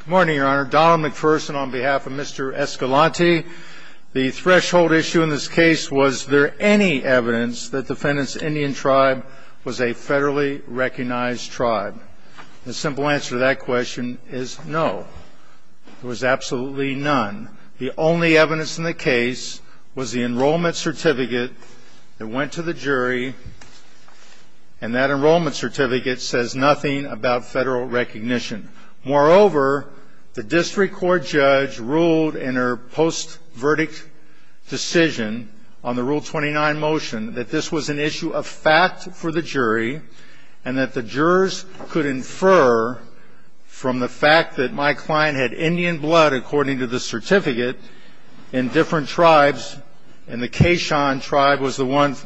Good morning, Your Honor. Donald McPherson on behalf of Mr. Escalanti. The threshold issue in this case was, was there any evidence that the defendant's Indian tribe was a federally recognized tribe? The simple answer to that question is no. There was absolutely none. The only evidence in the case was the enrollment certificate that went to the jury and that enrollment certificate says nothing about federal recognition. Moreover, the district court judge ruled in her post-verdict decision on the Rule 29 motion that this was an issue of fact for the jury and that the jurors could infer from the fact that my client had Indian blood according to the certificate in different tribes, and the Kayshan tribe was the one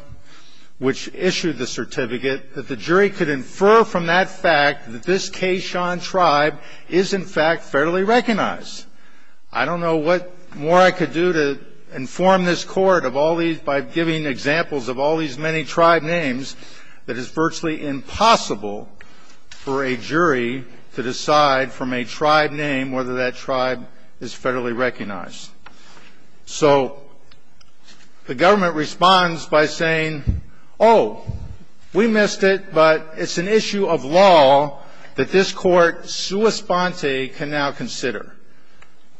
which issued the certificate, that the jury could infer that this Kayshan tribe is in fact federally recognized. I don't know what more I could do to inform this Court of all these, by giving examples of all these many tribe names that it's virtually impossible for a jury to decide from a tribe name whether that tribe is federally recognized. So the government responds by saying, oh, we missed it, but it's an issue of law that this Court, sua sponte, can now consider. Roberts.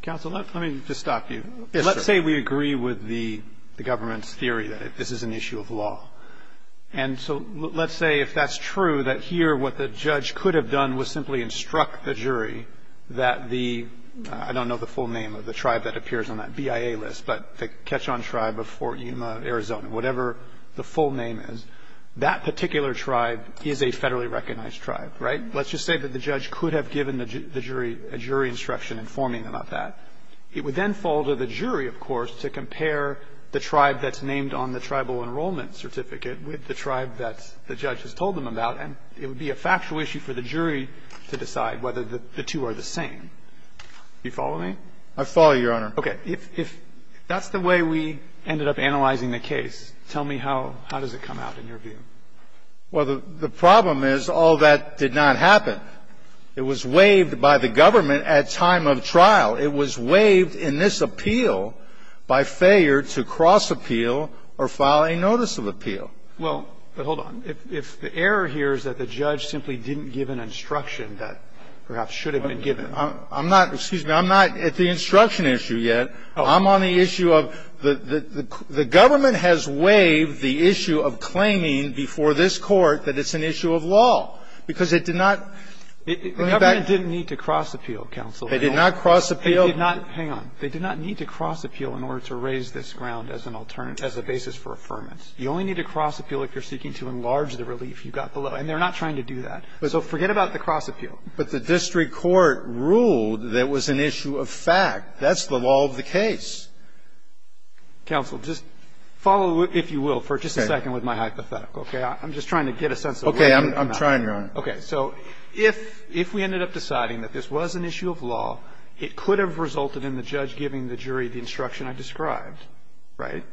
Counsel, let me just stop you. Let's say we agree with the government's theory that this is an issue of law. And so let's say if that's true, that here what the judge could have done was simply instruct the jury that the I don't know the full name of the tribe that appears on that BIA list, but the Kayshan tribe of Fort Yuma, Arizona, whatever the full name is, that particular tribe is a federally recognized tribe, right? Let's just say that the judge could have given the jury a jury instruction informing them of that. It would then fall to the jury, of course, to compare the tribe that's named on the tribal enrollment certificate with the tribe that the judge has told them about. And it would be a factual issue for the jury to decide whether the two are the same. Do you follow me? I follow you, Your Honor. Okay. If that's the way we ended up analyzing the case, tell me how does it come out in your view? Well, the problem is all that did not happen. It was waived by the government at time of trial. It was waived in this appeal by failure to cross-appeal or file a notice of appeal. Well, but hold on. If the error here is that the judge simply didn't give an instruction that perhaps should have been given. I'm not, excuse me, I'm not at the instruction issue yet. I'm on the issue of the government has waived the issue of claiming before this court that it's an issue of law, because it did not. The government didn't need to cross-appeal, counsel. They did not cross-appeal. They did not. Hang on. They did not need to cross-appeal in order to raise this ground as an alternative as a basis for affirmance. You only need to cross-appeal if you're seeking to enlarge the relief you got below. And they're not trying to do that. So forget about the cross-appeal. But the district court ruled that it was an issue of fact. That's the law of the case. Counsel, just follow, if you will, for just a second with my hypothetical. I'm just trying to get a sense of whether or not. Okay. I'm trying, Your Honor. Okay. So if we ended up deciding that this was an issue of law, it could have resulted in the judge giving the jury the instruction I described, right?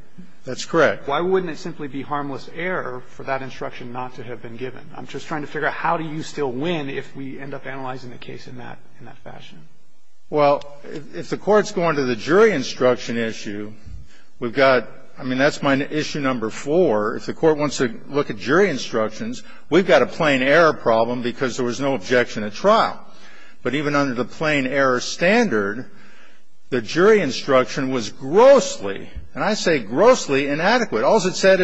That's correct. Why wouldn't it simply be harmless error for that instruction not to have been given? I'm just trying to figure out how do you still win if we end up analyzing the case in that fashion. Well, if the Court's going to the jury instruction issue, we've got, I mean, that's my issue number four. If the Court wants to look at jury instructions, we've got a plain error problem because there was no objection at trial. But even under the plain error standard, the jury instruction was grossly, and I say grossly, inadequate. I mean, the jury instruction was grossly inadequate. All's it said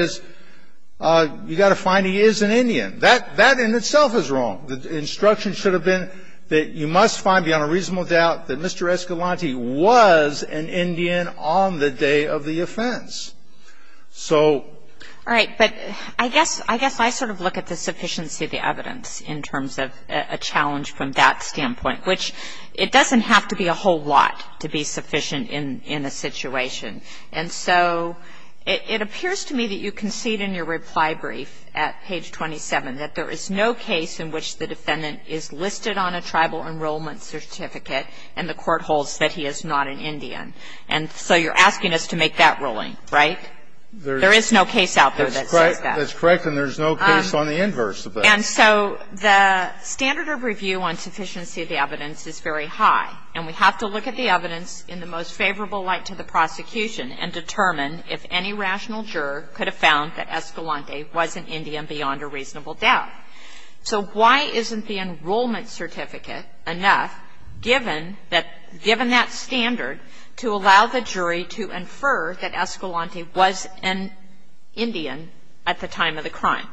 is you've got to find he is an Indian. That in itself is wrong. The instruction should have been that you must find beyond a reasonable doubt that Mr. Escalante was an Indian on the day of the offense. So. All right. But I guess I sort of look at the sufficiency of the evidence in terms of a challenge from that standpoint, which it doesn't have to be a whole lot to be sufficient in a situation. And so it appears to me that you concede in your reply brief at page 27 that there is no case in which the defendant is listed on a tribal enrollment certificate and the Court holds that he is not an Indian. And so you're asking us to make that ruling, right? There is no case out there that says that. That's correct. And there's no case on the inverse of that. And so the standard of review on sufficiency of the evidence is very high. And we have to look at the evidence in the most favorable light to the prosecution and determine if any rational juror could have found that Escalante was an Indian beyond a reasonable doubt. So why isn't the enrollment certificate enough, given that standard, to allow the jury to infer that Escalante was an Indian at the time of the crime?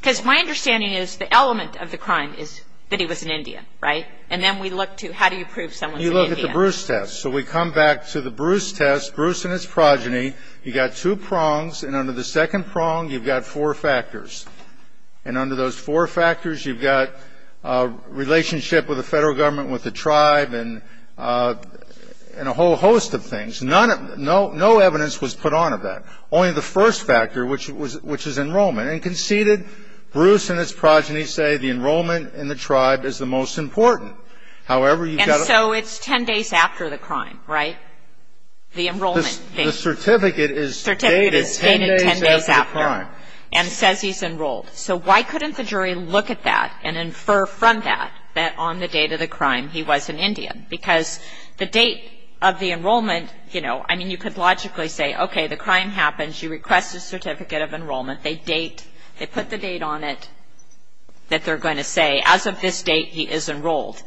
Because my understanding is the element of the crime is that he was an Indian, right? And then we look to how do you prove someone's an Indian? You look at the Bruce test. So we come back to the Bruce test, Bruce and his progeny. You've got two prongs. And under the second prong, you've got four factors. And under those four factors, you've got a relationship with the Federal Government, with the tribe, and a whole host of things. No evidence was put on of that, only the first factor, which is enrollment. And conceded, Bruce and his progeny say the enrollment in the tribe is the most important. However, you've got to ---- And so it's ten days after the crime, right? The enrollment date. The certificate is dated ten days after the crime. And says he's enrolled. So why couldn't the jury look at that and infer from that that on the date of the crime he was an Indian? Because the date of the enrollment, you know, I mean, you could logically say, okay, the crime happens. You request a certificate of enrollment. They date. They put the date on it that they're going to say, as of this date, he is enrolled.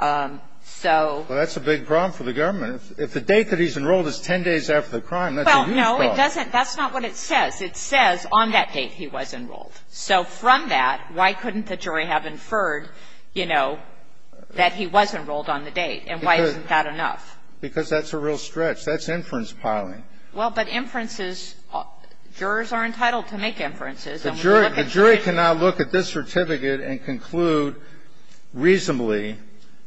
So ---- Well, that's a big problem for the government. If the date that he's enrolled is ten days after the crime, that's a huge problem. Well, no, it doesn't. That's not what it says. It says on that date he was enrolled. So from that, why couldn't the jury have inferred, you know, that he was enrolled on the date? And why isn't that enough? Because that's a real stretch. That's inference piling. Well, but inferences, jurors are entitled to make inferences. The jury can now look at this certificate and conclude reasonably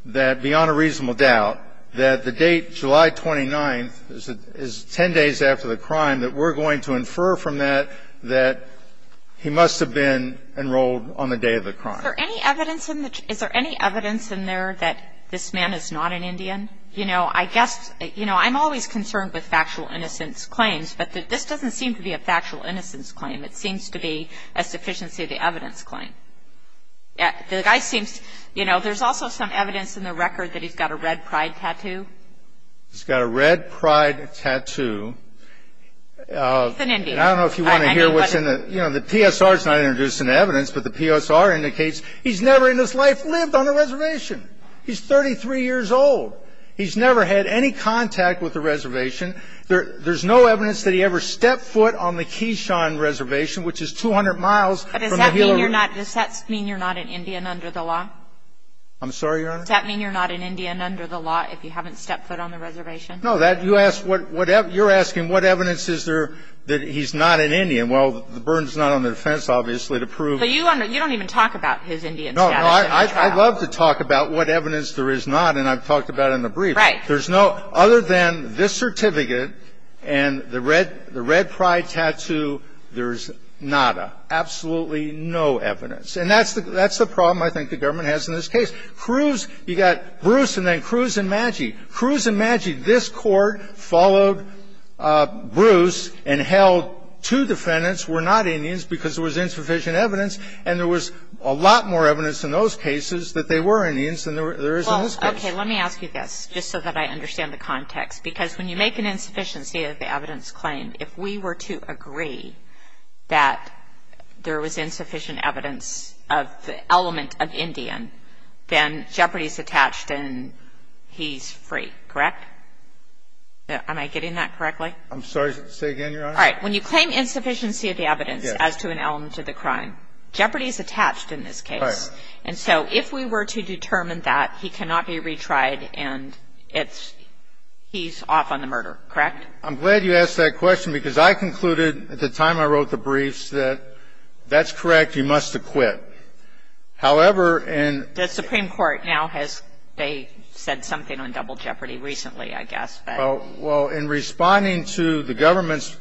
that, beyond a reasonable doubt, that the date, July 29th, is ten days after the crime, that we're going to infer from that that he must have been enrolled on the day of the crime. Is there any evidence in there that this man is not an Indian? You know, I guess ---- you know, I'm always concerned with factual innocence claims, but this doesn't seem to be a factual innocence claim. It seems to be a sufficiency of the evidence claim. The guy seems ---- you know, there's also some evidence in the record that he's got a red pride tattoo. He's got a red pride tattoo. He's an Indian. I don't know if you want to hear what's in the ---- You know, the PSR is not introducing evidence, but the PSR indicates he's never in his life lived on a reservation. He's 33 years old. He's never had any contact with a reservation. There's no evidence that he ever stepped foot on the Keyshawn Reservation, which is 200 miles from the Gila River. But does that mean you're not an Indian under the law? I'm sorry, Your Honor? Does that mean you're not an Indian under the law if you haven't stepped foot on the reservation? No. You're asking what evidence is there that he's not an Indian. Well, the burden is not on the defense, obviously, to prove ---- But you don't even talk about his Indian status in the trial. I'd love to talk about what evidence there is not, and I've talked about it in the brief. Right. There's no other than this certificate and the red pride tattoo, there's nada, absolutely no evidence. And that's the problem I think the government has in this case. Cruz, you got Bruce and then Cruz and Maggi. Cruz and Maggi, this Court followed Bruce and held two defendants were not Indians because there was insufficient evidence, and there was a lot more evidence in those cases that they were Indians than there is in this case. Well, okay. Let me ask you this, just so that I understand the context. Because when you make an insufficiency of the evidence claimed, if we were to agree that there was insufficient evidence of the element of Indian, then Jeopardy's attached and he's free, correct? Am I getting that correctly? I'm sorry. Say again, Your Honor? All right. When you claim insufficiency of the evidence as to an element of the crime, Jeopardy's attached in this case. Right. And so if we were to determine that, he cannot be retried and he's off on the murder, correct? I'm glad you asked that question because I concluded at the time I wrote the briefs that that's correct, he must have quit. However, in the Supreme Court now has said something on double Jeopardy recently, I guess. Well, in responding to the government's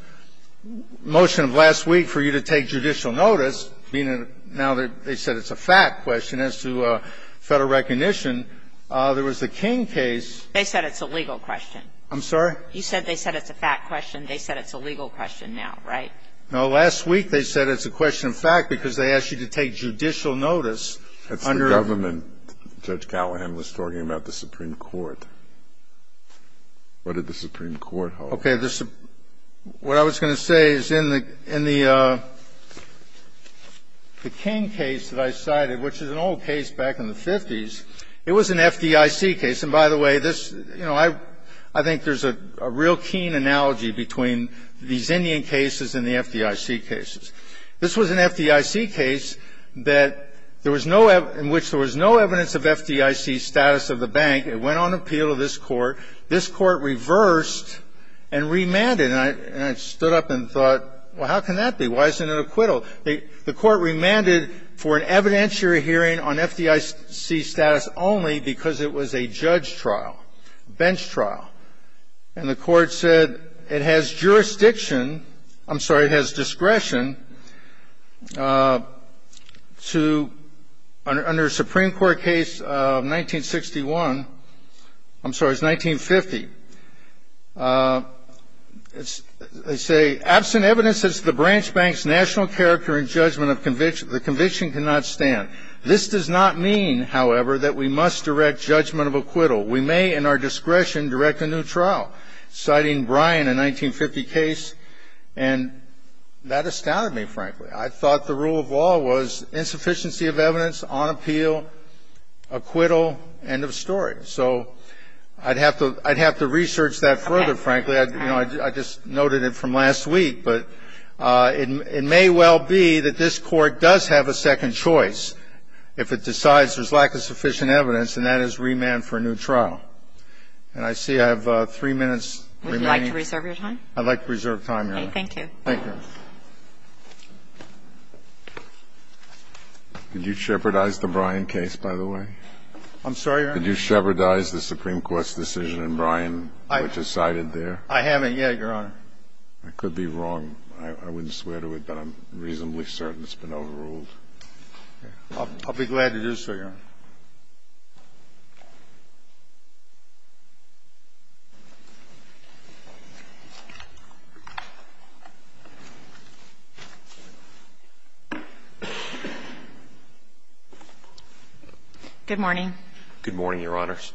motion last week for you to take judicial notice, now that they said it's a fact question, as to Federal recognition, there was the King case. They said it's a legal question. I'm sorry? You said they said it's a fact question. They said it's a legal question now, right? No. Last week they said it's a question of fact because they asked you to take judicial notice under the government. And they said it's a question of fact because you're a judge. Now, I'm wondering what did the Supreme Court hold when Judge Callahan was talking about the Supreme Court? What did the Supreme Court hold? Okay. What I was going to say is in the King case that I cited, which is an old case back in the 50s, it was an FDIC case. And, by the way, this, you know, I think there's a real keen analogy between these Indian cases and the FDIC cases. This was an FDIC case in which there was no evidence of FDIC status of the bank. It went on appeal to this Court. This Court reversed and remanded. And I stood up and thought, well, how can that be? Why isn't it acquittal? The Court remanded for an evidentiary hearing on FDIC status only because it was a judge trial, a bench trial. And the Court said it has jurisdiction, I'm sorry, it has discretion to, under a Supreme Court case of 1961, I'm sorry, it was 1950, they say, absent evidence as to the branch bank's national character and judgment of conviction, the conviction cannot stand. This does not mean, however, that we must direct judgment of acquittal. We may, in our discretion, direct a new trial, citing Bryan, a 1950 case. And that astounded me, frankly. I thought the rule of law was insufficiency of evidence on appeal, acquittal, end of story. So I'd have to research that further, frankly. You know, I just noted it from last week. But it may well be that this Court does have a second choice if it decides there's And I see I have three minutes remaining. Would you like to reserve your time? I'd like to reserve time, Your Honor. Okay. Thank you. Thank you. Could you shepherdize the Bryan case, by the way? I'm sorry, Your Honor? Could you shepherdize the Supreme Court's decision in Bryan, which is cited there? I haven't yet, Your Honor. I could be wrong. I wouldn't swear to it, but I'm reasonably certain it's been overruled. I'll be glad to do so, Your Honor. Thank you. Good morning. Good morning, Your Honors.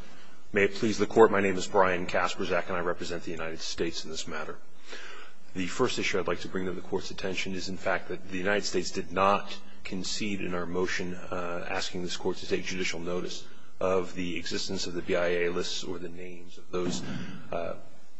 May it please the Court, my name is Brian Kaspersak, and I represent the United States in this matter. The first issue I'd like to bring to the Court's attention is, in fact, that the United States did not concede in our motion asking this Court to take judicial notice of the existence of the BIA lists or the names of those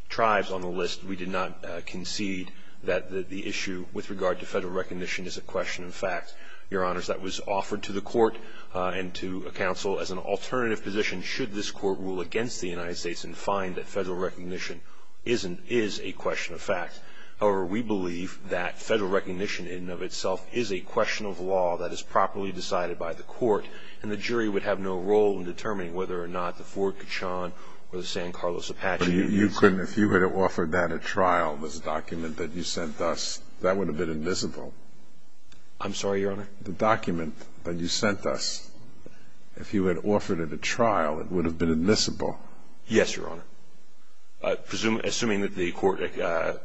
tribes on the list. We did not concede that the issue with regard to federal recognition is a question of fact. Your Honors, that was offered to the Court and to a counsel as an alternative position should this Court rule against the United States and find that federal recognition is a question of fact. However, we believe that federal recognition in and of itself is a question of law that is properly decided by the Court, and the jury would have no role in determining whether or not the Ford-Kachan or the San Carlos-Apache unions. But you couldn't, if you had offered that at trial, this document that you sent us, that would have been admissible. I'm sorry, Your Honor? The document that you sent us, if you had offered it at trial, it would have been admissible. Yes, Your Honor. Assuming that the Court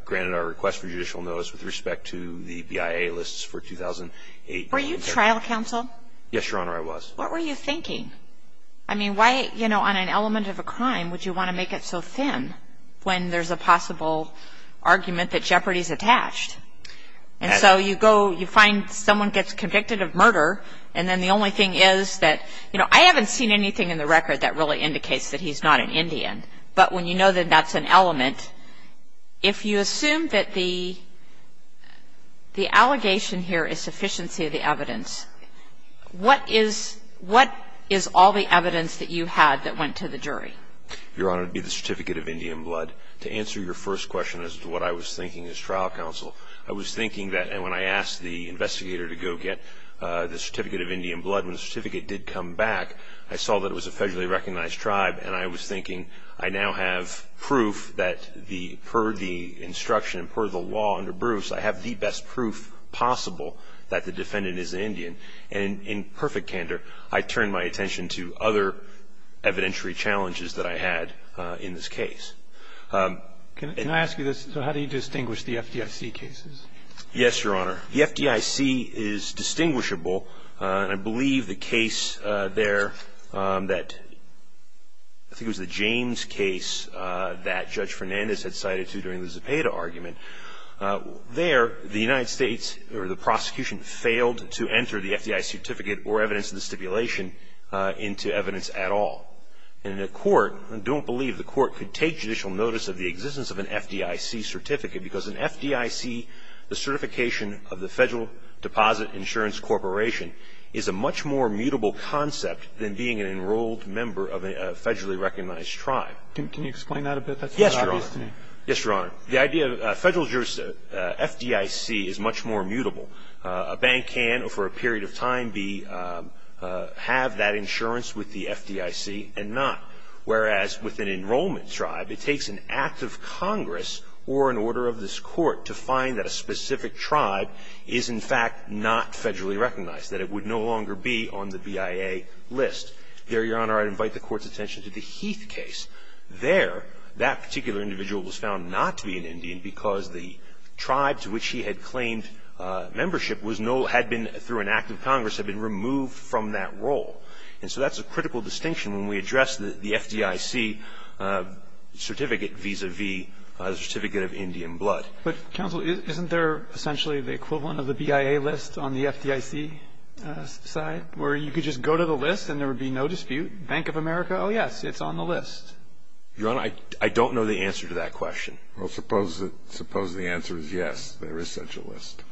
granted our request for judicial notice with respect to the BIA lists for 2008. Were you trial counsel? Yes, Your Honor, I was. What were you thinking? I mean, why, you know, on an element of a crime would you want to make it so thin when there's a possible argument that jeopardy is attached? And so you go, you find someone gets convicted of murder, and then the only thing is that, you know, I haven't seen anything in the record that really indicates that he's not an Indian. But when you know that that's an element, if you assume that the allegation here is sufficiency of the evidence, what is all the evidence that you had that went to the jury? Your Honor, it would be the certificate of Indian blood. To answer your first question as to what I was thinking as trial counsel, I was thinking that when I asked the investigator to go get the certificate of Indian blood, when the certificate did come back, I saw that it was a federally recognized tribe, and I was thinking I now have proof that per the instruction and per the law under Bruce, I have the best proof possible that the defendant is an Indian. And in perfect candor, I turned my attention to other evidentiary challenges that I had in this case. Can I ask you this? So how do you distinguish the FDIC cases? Yes, Your Honor. The FDIC is distinguishable. I believe the case there that I think was the James case that Judge Fernandez had cited to during the Zepeda argument, there the United States or the prosecution failed to enter the FDIC certificate or evidence of the stipulation into evidence at all. And the court, I don't believe the court could take judicial notice of the existence of an FDIC certificate because an FDIC, the certification of the Federal Deposit Insurance Corporation, is a much more mutable concept than being an enrolled member of a federally recognized tribe. Can you explain that a bit? Yes, Your Honor. Yes, Your Honor. The idea of a federal FDIC is much more mutable. A bank can, for a period of time, have that insurance with the FDIC and not, whereas with an enrollment tribe, it takes an act of Congress or an order of this Court to find that a specific tribe is, in fact, not federally recognized, that it would no longer be on the BIA list. There, Your Honor, I'd invite the Court's attention to the Heath case. There, that particular individual was found not to be an Indian because the tribe to which he had claimed membership was no, had been, through an act of Congress, had been removed from that role. And so that's a critical distinction when we address the FDIC certificate vis-à-vis a certificate of Indian blood. But, counsel, isn't there essentially the equivalent of the BIA list on the FDIC side, where you could just go to the list and there would be no dispute? Bank of America, oh, yes, it's on the list. Your Honor, I don't know the answer to that question. Well, suppose the answer is yes, there is such a list.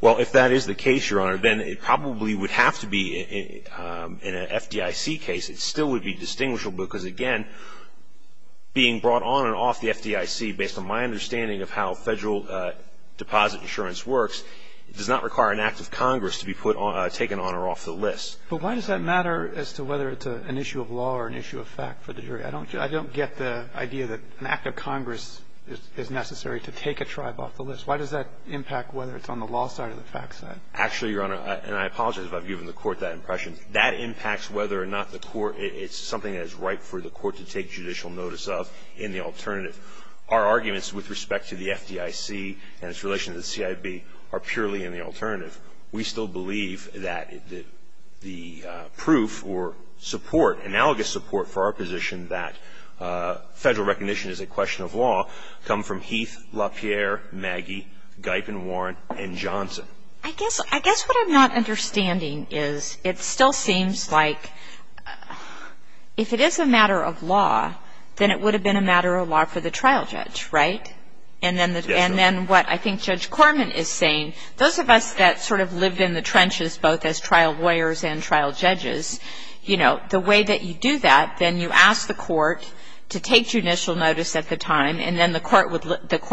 Well, if that is the case, Your Honor, then it probably would have to be in an FDIC case. It still would be distinguishable because, again, being brought on and off the FDIC, based on my understanding of how federal deposit insurance works, it does not require an act of Congress to be taken on or off the list. But why does that matter as to whether it's an issue of law or an issue of fact for the jury? I don't get the idea that an act of Congress is necessary to take a tribe off the list. Why does that impact whether it's on the law side or the fact side? Actually, Your Honor, and I apologize if I've given the Court that impression, that impacts whether or not the Court, it's something that is ripe for the Court to take judicial notice of in the alternative. Our arguments with respect to the FDIC and its relation to the CIB are purely in the alternative. We still believe that the proof or support, analogous support for our position that federal recognition is a question of law come from Heath, LaPierre, Maggie, Guypen, Warren, and Johnson. I guess what I'm not understanding is it still seems like if it is a matter of law, then it would have been a matter of law for the trial judge, right? Yes, Your Honor. And then what I think Judge Corman is saying, those of us that sort of lived in the trenches both as trial lawyers and trial judges, you know, the way that you do that, then you ask the Court to take judicial notice at the time, and then the Court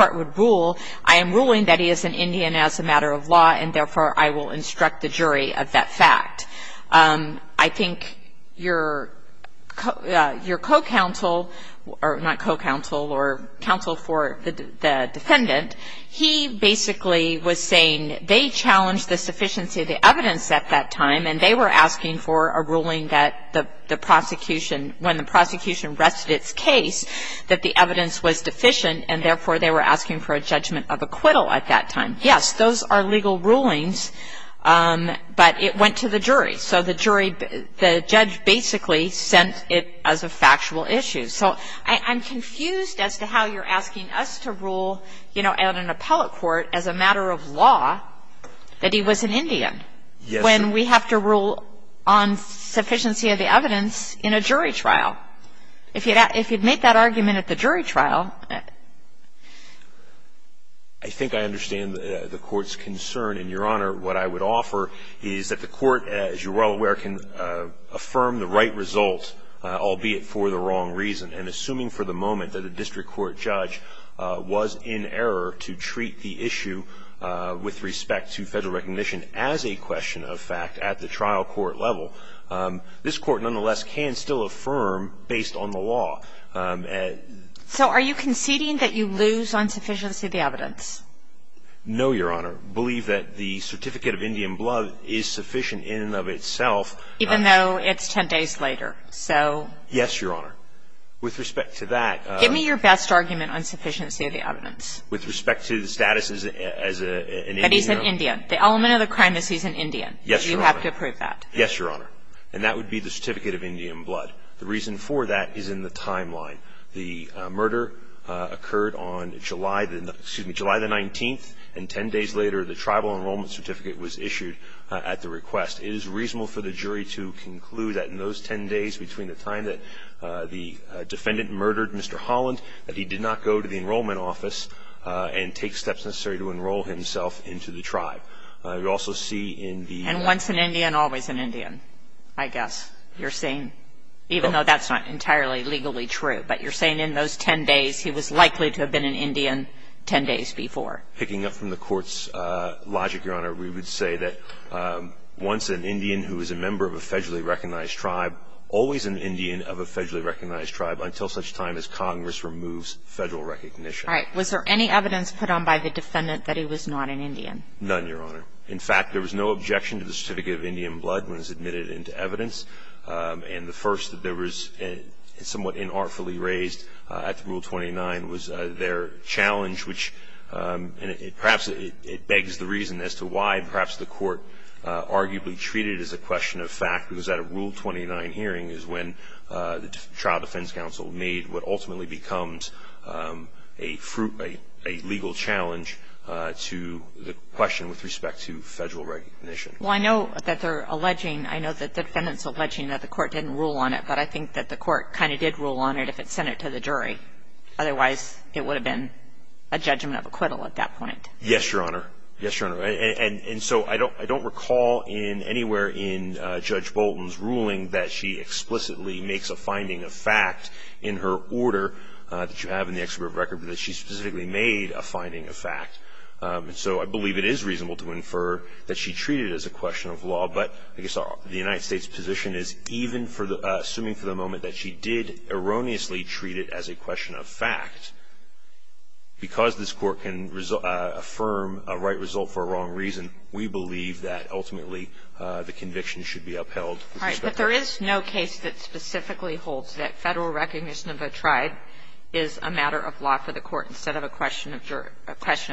would rule, I am ruling that he is an Indian as a matter of law, and therefore I will instruct the jury of that fact. I think your co-counsel, not co-counsel, or counsel for the defendant, he basically was saying they challenged the sufficiency of the evidence at that time, and they were asking for a ruling that the prosecution, when the prosecution rested its case, that the evidence was deficient, and therefore they were asking for a judgment of acquittal at that time. Yes, those are legal rulings, but it went to the jury. So the jury, the judge basically sent it as a factual issue. So I'm confused as to how you're asking us to rule, you know, at an appellate court as a matter of law that he was an Indian. Yes. When we have to rule on sufficiency of the evidence in a jury trial. If you'd make that argument at the jury trial. I think I understand the Court's concern. And, Your Honor, what I would offer is that the Court, as you're well aware, can affirm the right result, albeit for the wrong reason. And assuming for the moment that a district court judge was in error to treat the issue with respect to federal recognition as a question of fact at the trial court level, this Court nonetheless can still affirm based on the law. So are you conceding that you lose on sufficiency of the evidence? No, Your Honor. I believe that the certificate of Indian blood is sufficient in and of itself. Even though it's 10 days later. Yes, Your Honor. With respect to that. Give me your best argument on sufficiency of the evidence. With respect to the status as an Indian. That he's an Indian. The element of the crime is he's an Indian. Yes, Your Honor. You have to approve that. Yes, Your Honor. And that would be the certificate of Indian blood. The reason for that is in the timeline. The murder occurred on July the 19th, and 10 days later the tribal enrollment certificate was issued at the request. It is reasonable for the jury to conclude that in those 10 days between the time that the defendant murdered Mr. Holland, that he did not go to the enrollment office and take steps necessary to enroll himself into the tribe. You also see in the... And once an Indian, always an Indian, I guess. You're saying, even though that's not entirely legally true. But you're saying in those 10 days he was likely to have been an Indian 10 days before. Picking up from the Court's logic, Your Honor, we would say that once an Indian who is a member of a federally recognized tribe, always an Indian of a federally recognized tribe until such time as Congress removes federal recognition. All right. Was there any evidence put on by the defendant that he was not an Indian? None, Your Honor. In fact, there was no objection to the certificate of Indian blood when it was admitted into evidence. And the first that there was somewhat inartfully raised at Rule 29 was their challenge, which perhaps it begs the reason as to why perhaps the Court arguably treated it as a question of fact. Because at a Rule 29 hearing is when the Child Defense Council made what ultimately becomes a legal challenge to the question with respect to federal recognition. Well, I know that they're alleging... I know that the defendant's alleging that the Court didn't rule on it. But I think that the Court kind of did rule on it if it sent it to the jury. Otherwise, it would have been a judgment of acquittal at that point. Yes, Your Honor. Yes, Your Honor. And so I don't recall anywhere in Judge Bolton's ruling that she explicitly makes a finding of fact in her order that you have in the Exhibit of Record, but that she specifically made a finding of fact. And so I believe it is reasonable to infer that she treated it as a question of law. But I guess the United States' position is, even assuming for the moment that she did erroneously treat it as a question of fact, because this Court can affirm a right result for a wrong reason, we believe that ultimately the conviction should be upheld. All right. But there is no case that specifically holds that federal recognition of a tribe is a matter of law for the Court instead of a question of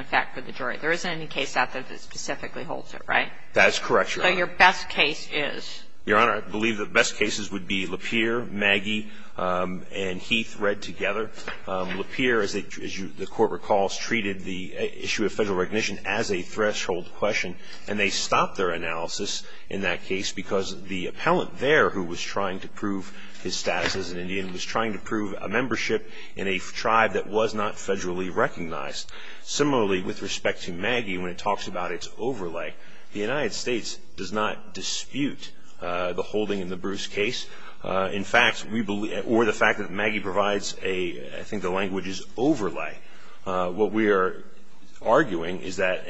fact for the jury. There isn't any case out there that specifically holds it, right? That is correct, Your Honor. So your best case is? Your Honor, I believe the best cases would be Lapeer, Maggie, and Heath read together. Lapeer, as the Court recalls, treated the issue of federal recognition as a threshold question, and they stopped their analysis in that case because the appellant there, who was trying to prove his status as an Indian, was trying to prove a membership in a tribe that was not federally recognized. Similarly, with respect to Maggie, when it talks about its overlay, the United States does not dispute the holding in the Bruce case. In fact, we believe, or the fact that Maggie provides a, I think the language is overlay. What we are arguing is that,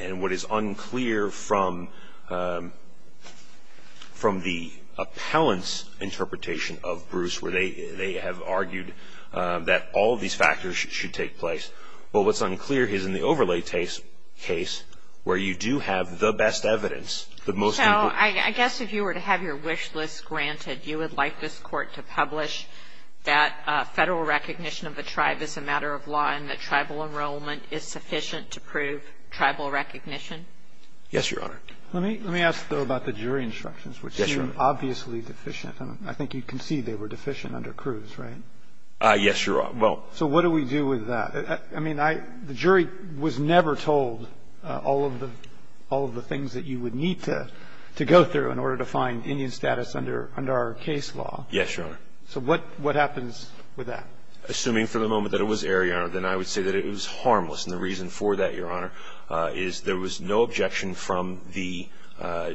and what is unclear from the appellant's interpretation of Bruce, where they have argued that all of these factors should take place, but what's unclear is in the overlay case where you do have the best evidence. So I guess if you were to have your wish list granted, you would like this Court to publish that federal recognition of a tribe is a matter of law and that tribal enrollment is sufficient to prove tribal recognition? Yes, Your Honor. Let me ask, though, about the jury instructions. Yes, Your Honor. Which are obviously deficient. I think you can see they were deficient under Cruz, right? Yes, Your Honor. Well, so what do we do with that? I mean, the jury was never told all of the things that you would need to go through in order to find Indian status under our case law. Yes, Your Honor. So what happens with that? Assuming for the moment that it was error, Your Honor, then I would say that it was harmless. And the reason for that, Your Honor, is there was no objection from the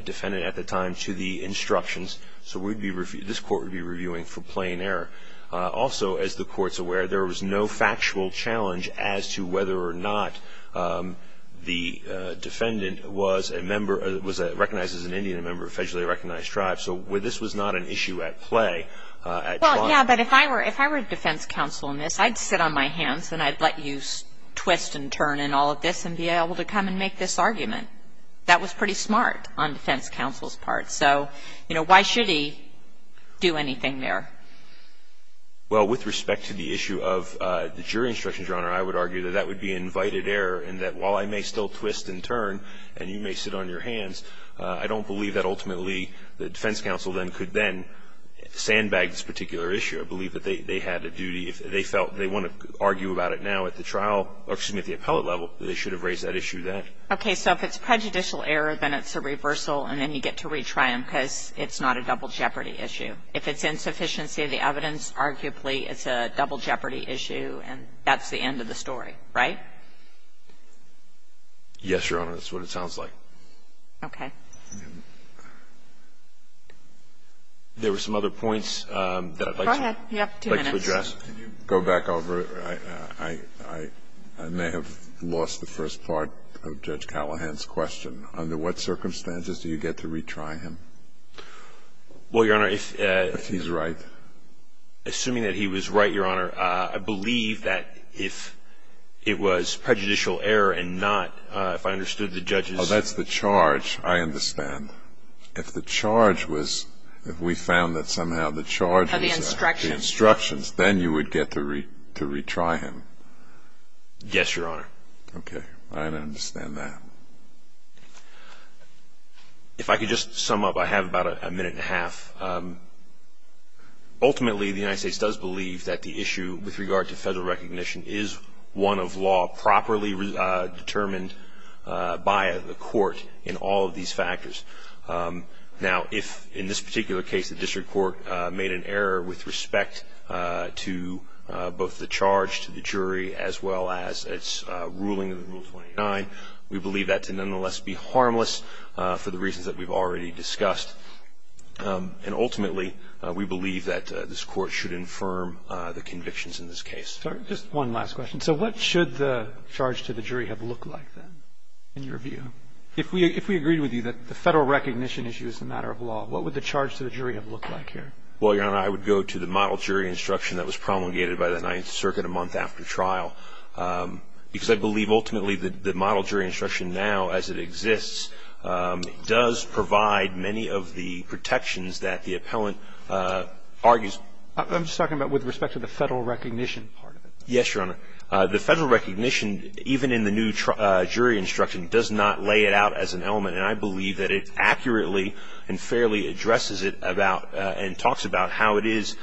defendant at the time to the instructions. So this Court would be reviewing for plain error. Also, as the Court's aware, there was no factual challenge as to whether or not the defendant was a member, was recognized as an Indian member of a federally recognized tribe. So this was not an issue at play at trial. Well, yes, but if I were defense counsel in this, I'd sit on my hands and I'd let you twist and turn and all of this and be able to come and make this argument. That was pretty smart on defense counsel's part. So, you know, why should he do anything there? Well, with respect to the issue of the jury instructions, Your Honor, I would argue that that would be invited error and that while I may still twist and turn and you may sit on your hands, I don't believe that ultimately the defense counsel then could then sandbag this particular issue. I believe that they had a duty. If they felt they want to argue about it now at the trial or, excuse me, at the appellate level, they should have raised that issue then. Okay. So if it's prejudicial error, then it's a reversal and then you get to retry them because it's not a double jeopardy issue. If it's insufficiency of the evidence, arguably it's a double jeopardy issue and that's the end of the story. Right? Yes, Your Honor. That's what it sounds like. Okay. Go ahead. You have two minutes. Can you go back over? I may have lost the first part of Judge Callahan's question. Under what circumstances do you get to retry him? Well, Your Honor, if he's right. Assuming that he was right, Your Honor, I believe that if it was prejudicial error and not, if I understood the judge's. Oh, that's the charge. I understand. Of the instructions. Of the instructions. Then you would get to retry him. Yes, Your Honor. Okay. I understand that. If I could just sum up, I have about a minute and a half. Ultimately, the United States does believe that the issue with regard to federal recognition is one of law properly determined by the court in all of these factors. Now, if in this particular case the district court made an error with respect to both the charge to the jury as well as its ruling in Rule 29, we believe that to nonetheless be harmless for the reasons that we've already discussed. And ultimately, we believe that this court should infirm the convictions in this case. Just one last question. So what should the charge to the jury have looked like then in your view? If we agreed with you that the federal recognition issue is a matter of law, what would the charge to the jury have looked like here? Well, Your Honor, I would go to the model jury instruction that was promulgated by the Ninth Circuit a month after trial because I believe ultimately the model jury instruction now as it exists does provide many of the protections that the appellant argues. I'm just talking about with respect to the federal recognition part of it. Yes, Your Honor. The federal recognition, even in the new jury instruction, does not lay it out as an element, and I believe that it accurately and fairly addresses it about and talks about how it is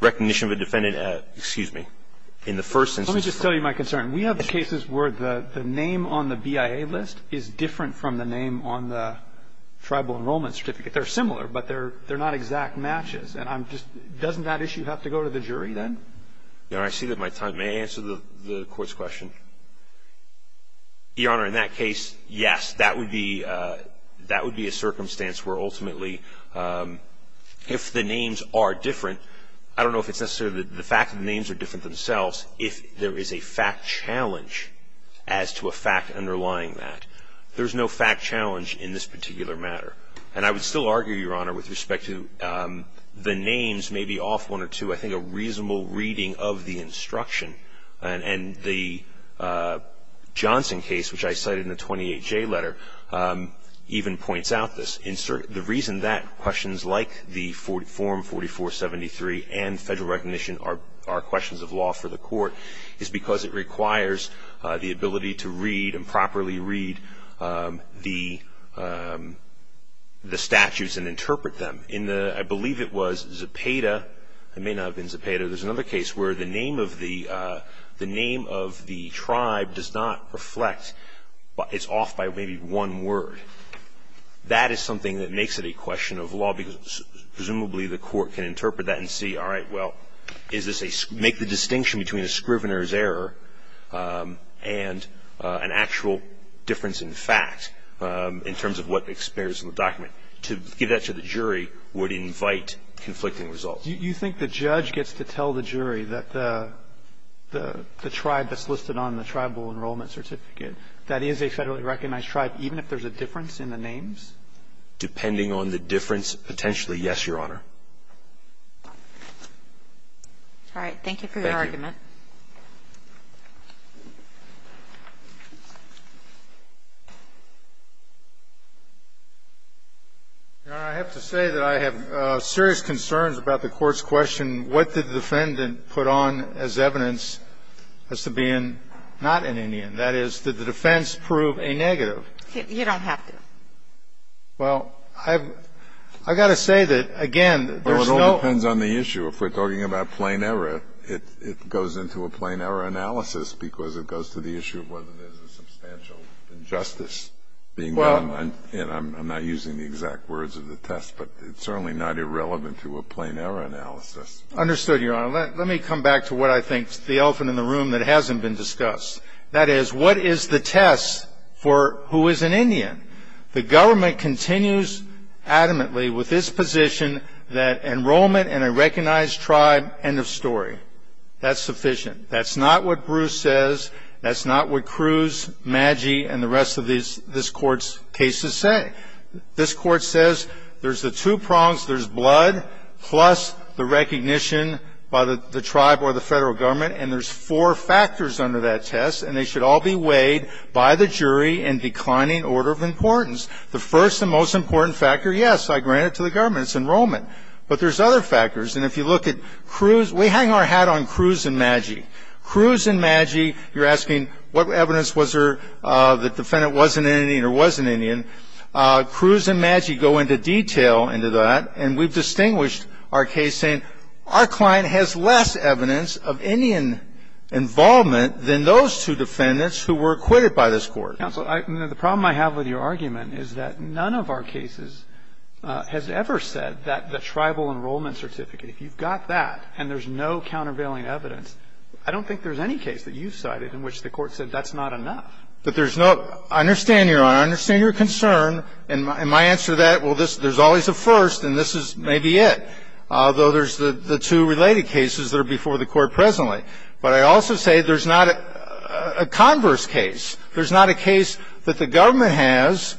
recognition of a defendant, excuse me, in the first instance. Let me just tell you my concern. We have cases where the name on the BIA list is different from the name on the tribal enrollment certificate. They're similar, but they're not exact matches. And I'm just doesn't that issue have to go to the jury then? Your Honor, I see that my time. May I answer the Court's question? Your Honor, in that case, yes. That would be a circumstance where ultimately if the names are different, I don't know if it's necessarily the fact that the names are different themselves, if there is a fact challenge as to a fact underlying that. There's no fact challenge in this particular matter. And I would still argue, Your Honor, with respect to the names may be off one or two. I think a reasonable reading of the instruction and the Johnson case, which I cited in the 28J letter, even points out this. The reason that questions like the Form 4473 and federal recognition are questions of law for the Court is because it requires the ability to read and properly read the statutes and interpret them. I believe it was Zepeda. It may not have been Zepeda. There's another case where the name of the tribe does not reflect. It's off by maybe one word. That is something that makes it a question of law, because presumably the Court can interpret that and see, all right, well, make the distinction between a scrivener's error and an actual difference in fact in terms of what appears in the document. To give that to the jury would invite conflicting results. Do you think the judge gets to tell the jury that the tribe that's listed on the tribal enrollment certificate, that is a federally recognized tribe, even if there's a difference in the names? Depending on the difference, potentially, yes, Your Honor. Thank you for your argument. Thank you. Your Honor, I have to say that I have serious concerns about the Court's question, what did the defendant put on as evidence as to being not an Indian? That is, did the defense prove a negative? You don't have to. Well, I've got to say that, again, there's no ---- Well, it all depends on the issue. If we're talking about plain error, it goes into a plain error analysis because it goes to the issue of whether there's a substantial injustice being done. I'm not using the exact words of the test, but it's certainly not irrelevant to a plain error analysis. Understood, Your Honor. Let me come back to what I think is the elephant in the room that hasn't been discussed. That is, what is the test for who is an Indian? The government continues adamantly with its position that enrollment in a recognized tribe, end of story. That's sufficient. That's not what Bruce says. That's not what Cruz, Maggi, and the rest of this Court's cases say. This Court says there's the two prongs, there's blood, plus the recognition by the tribe or the Federal Government, and there's four factors under that test, and they should all be weighed by the jury in declining order of importance. The first and most important factor, yes, I grant it to the government. It's enrollment. But there's other factors. And if you look at Cruz, we hang our hat on Cruz and Maggi. Cruz and Maggi, you're asking what evidence was there that the defendant was an Indian or was an Indian. Cruz and Maggi go into detail into that, and we've distinguished our case saying our client has less evidence of Indian involvement than those two defendants who were acquitted by this Court. Counsel, the problem I have with your argument is that none of our cases has ever said that the tribal enrollment certificate, if you've got that and there's no countervailing evidence, I don't think there's any case that you've cited in which the Court said that's not enough. But there's no – I understand, Your Honor. I understand your concern. And my answer to that, well, there's always a first, and this is maybe it, although there's the two related cases that are before the Court presently. But I also say there's not a converse case. There's not a case that the government has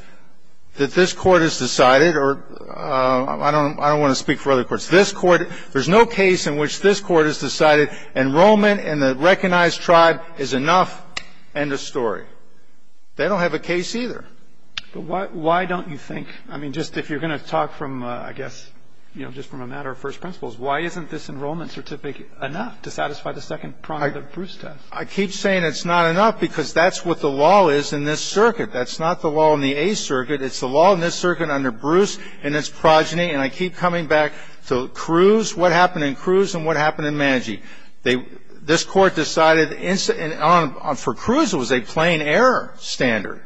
that this Court has decided, or I don't want to speak for other courts. There's no case in which this Court has decided enrollment in the recognized tribe is enough. End of story. They don't have a case either. But why don't you think, I mean, just if you're going to talk from, I guess, you know, just from a matter of first principles, why isn't this enrollment certificate enough to satisfy the second prong of the Bruce test? I keep saying it's not enough because that's what the law is in this circuit. That's not the law in the A circuit. It's the law in this circuit under Bruce and its progeny. And I keep coming back to Cruz. What happened in Cruz and what happened in Manji? This Court decided for Cruz it was a plain error standard,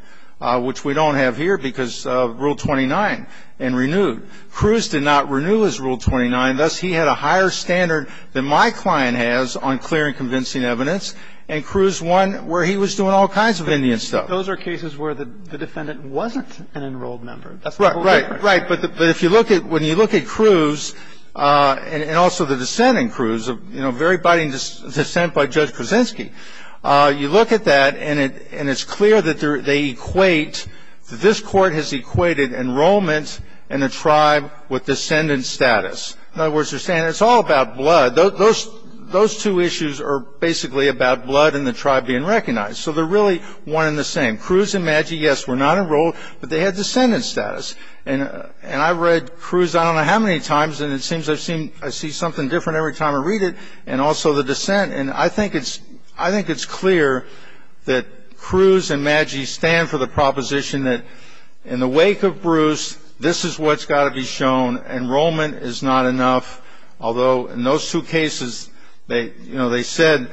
which we don't have here because of Rule 29 and renewed. Cruz did not renew his Rule 29. Thus, he had a higher standard than my client has on clear and convincing evidence, and Cruz won where he was doing all kinds of Indian stuff. Those are cases where the defendant wasn't an enrolled member. That's the whole difference. Right, right. But if you look at, when you look at Cruz, and also the descent in Cruz, you know, a very biting descent by Judge Krasinski, you look at that, and it's clear that they equate, this Court has equated enrollment in a tribe with descendant status. In other words, they're saying it's all about blood. Those two issues are basically about blood and the tribe being recognized. So they're really one and the same. Cruz and Manji, yes, were not enrolled, but they had descendant status. And I've read Cruz I don't know how many times, and it seems I see something different every time I read it, and also the descent. And I think it's clear that Cruz and Manji stand for the proposition that in the wake of Bruce, this is what's got to be shown. Enrollment is not enough, although in those two cases, you know, they said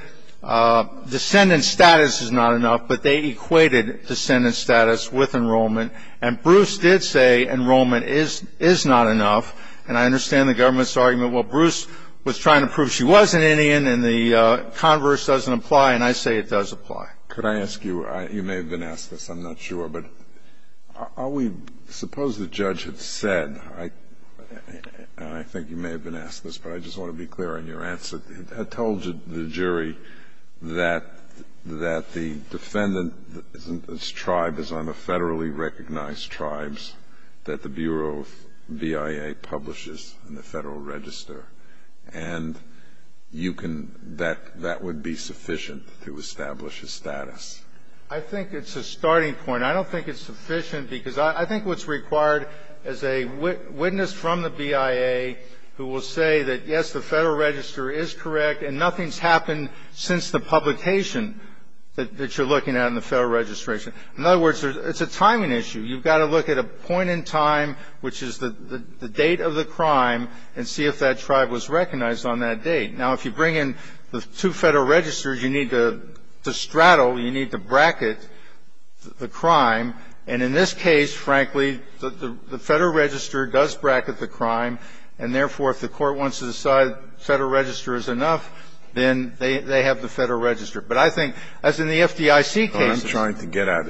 descendant status is not enough, but they equated descendant status with enrollment. And Bruce did say enrollment is not enough, and I understand the government's argument, well, Bruce was trying to prove she was an Indian, and the converse doesn't apply, and I say it does apply. Can I ask you, you may have been asked this, I'm not sure, but are we, suppose the judge had said, and I think you may have been asked this, but I just want to be clear in your answer. I told the jury that the defendant's tribe is on the federally recognized tribes that the Bureau of BIA publishes in the Federal Register. And you can, that would be sufficient to establish a status. I think it's a starting point. I don't think it's sufficient because I think what's required is a witness from the BIA who will say that, yes, the Federal Register is correct, and nothing's happened since the publication that you're looking at in the Federal Registration. In other words, it's a timing issue. You've got to look at a point in time, which is the date of the crime, and see if that tribe was recognized on that date. Now, if you bring in the two Federal Registers, you need to straddle, you need to bracket the crime. And in this case, frankly, the Federal Register does bracket the crime, and therefore, if the Court wants to decide Federal Register is enough, then they have the Federal Register. But I think, as in the FDIC cases. Breyer. I'm trying to get at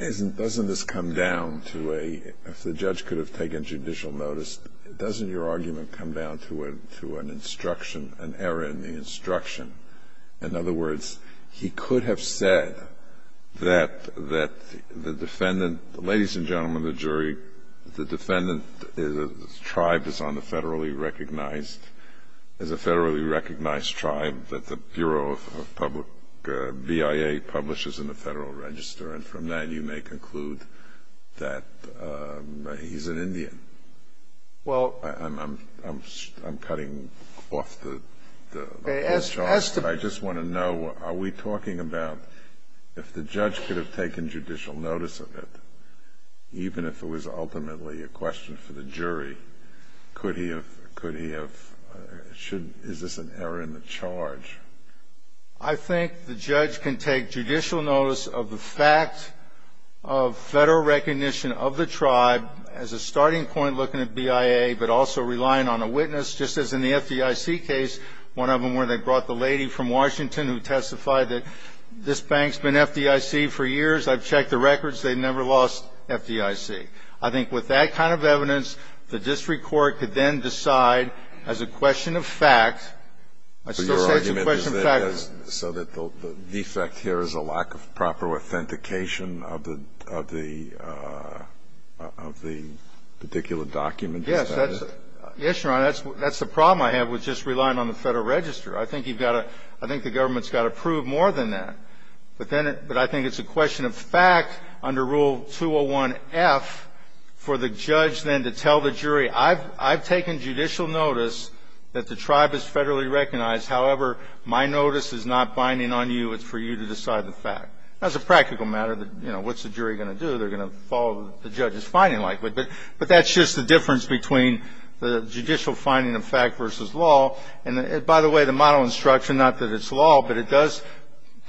is, doesn't this come down to a, if the judge could have taken judicial notice, doesn't your argument come down to an instruction, an error in the instruction? In other words, he could have said that the defendant, ladies and gentlemen of the jury, the defendant is a tribe that's on the federally recognized, is a federally recognized tribe that the Bureau of Public BIA publishes in the Federal Register. And from that, you may conclude that he's an Indian. Well, I'm cutting off the whole job. I just want to know, are we talking about if the judge could have taken judicial notice of it, even if it was ultimately a question for the jury, could he have, could he have, is this an error in the charge? I think the judge can take judicial notice of the fact of Federal recognition of the tribe as a starting point looking at BIA, but also relying on a witness, just as in the FDIC case, one of them where they brought the lady from Washington who testified that this bank's been FDIC for years. I've checked the records. They've never lost FDIC. I think with that kind of evidence, the district court could then decide as a question of fact. I still say it's a question of fact. So your argument is that so that the defect here is a lack of proper authentication of the, of the, of the particular document? Yes, Your Honor, that's the problem I have with just relying on the Federal Register. I think you've got to, I think the government's got to prove more than that. But then, but I think it's a question of fact under Rule 201F for the judge then to tell the jury, I've taken judicial notice that the tribe is Federally recognized. However, my notice is not binding on you. It's for you to decide the fact. That's a practical matter. You know, what's the jury going to do? They're going to follow the judge's finding, likely. But that's just the difference between the judicial finding of fact versus law. And by the way, the model instruction, not that it's law, but it does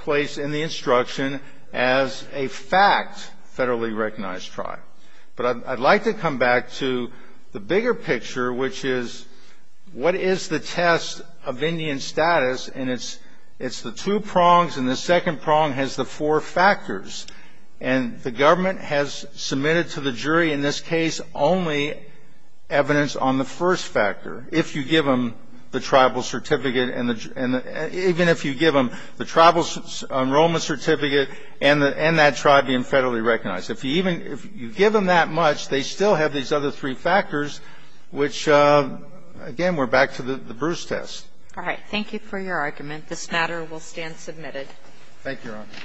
place in the instruction as a fact, Federally recognized tribe. But I'd like to come back to the bigger picture, which is what is the test of Indian status? And it's the two prongs, and the second prong has the four factors. And the government has submitted to the jury in this case only evidence on the first factor, if you give them the tribal certificate and the, even if you give them the tribal enrollment certificate and that tribe being Federally recognized. If you even, if you give them that much, they still have these other three factors, which, again, we're back to the Bruce test. All right. Thank you for your argument. This matter will stand submitted. Thank you, Your Honor.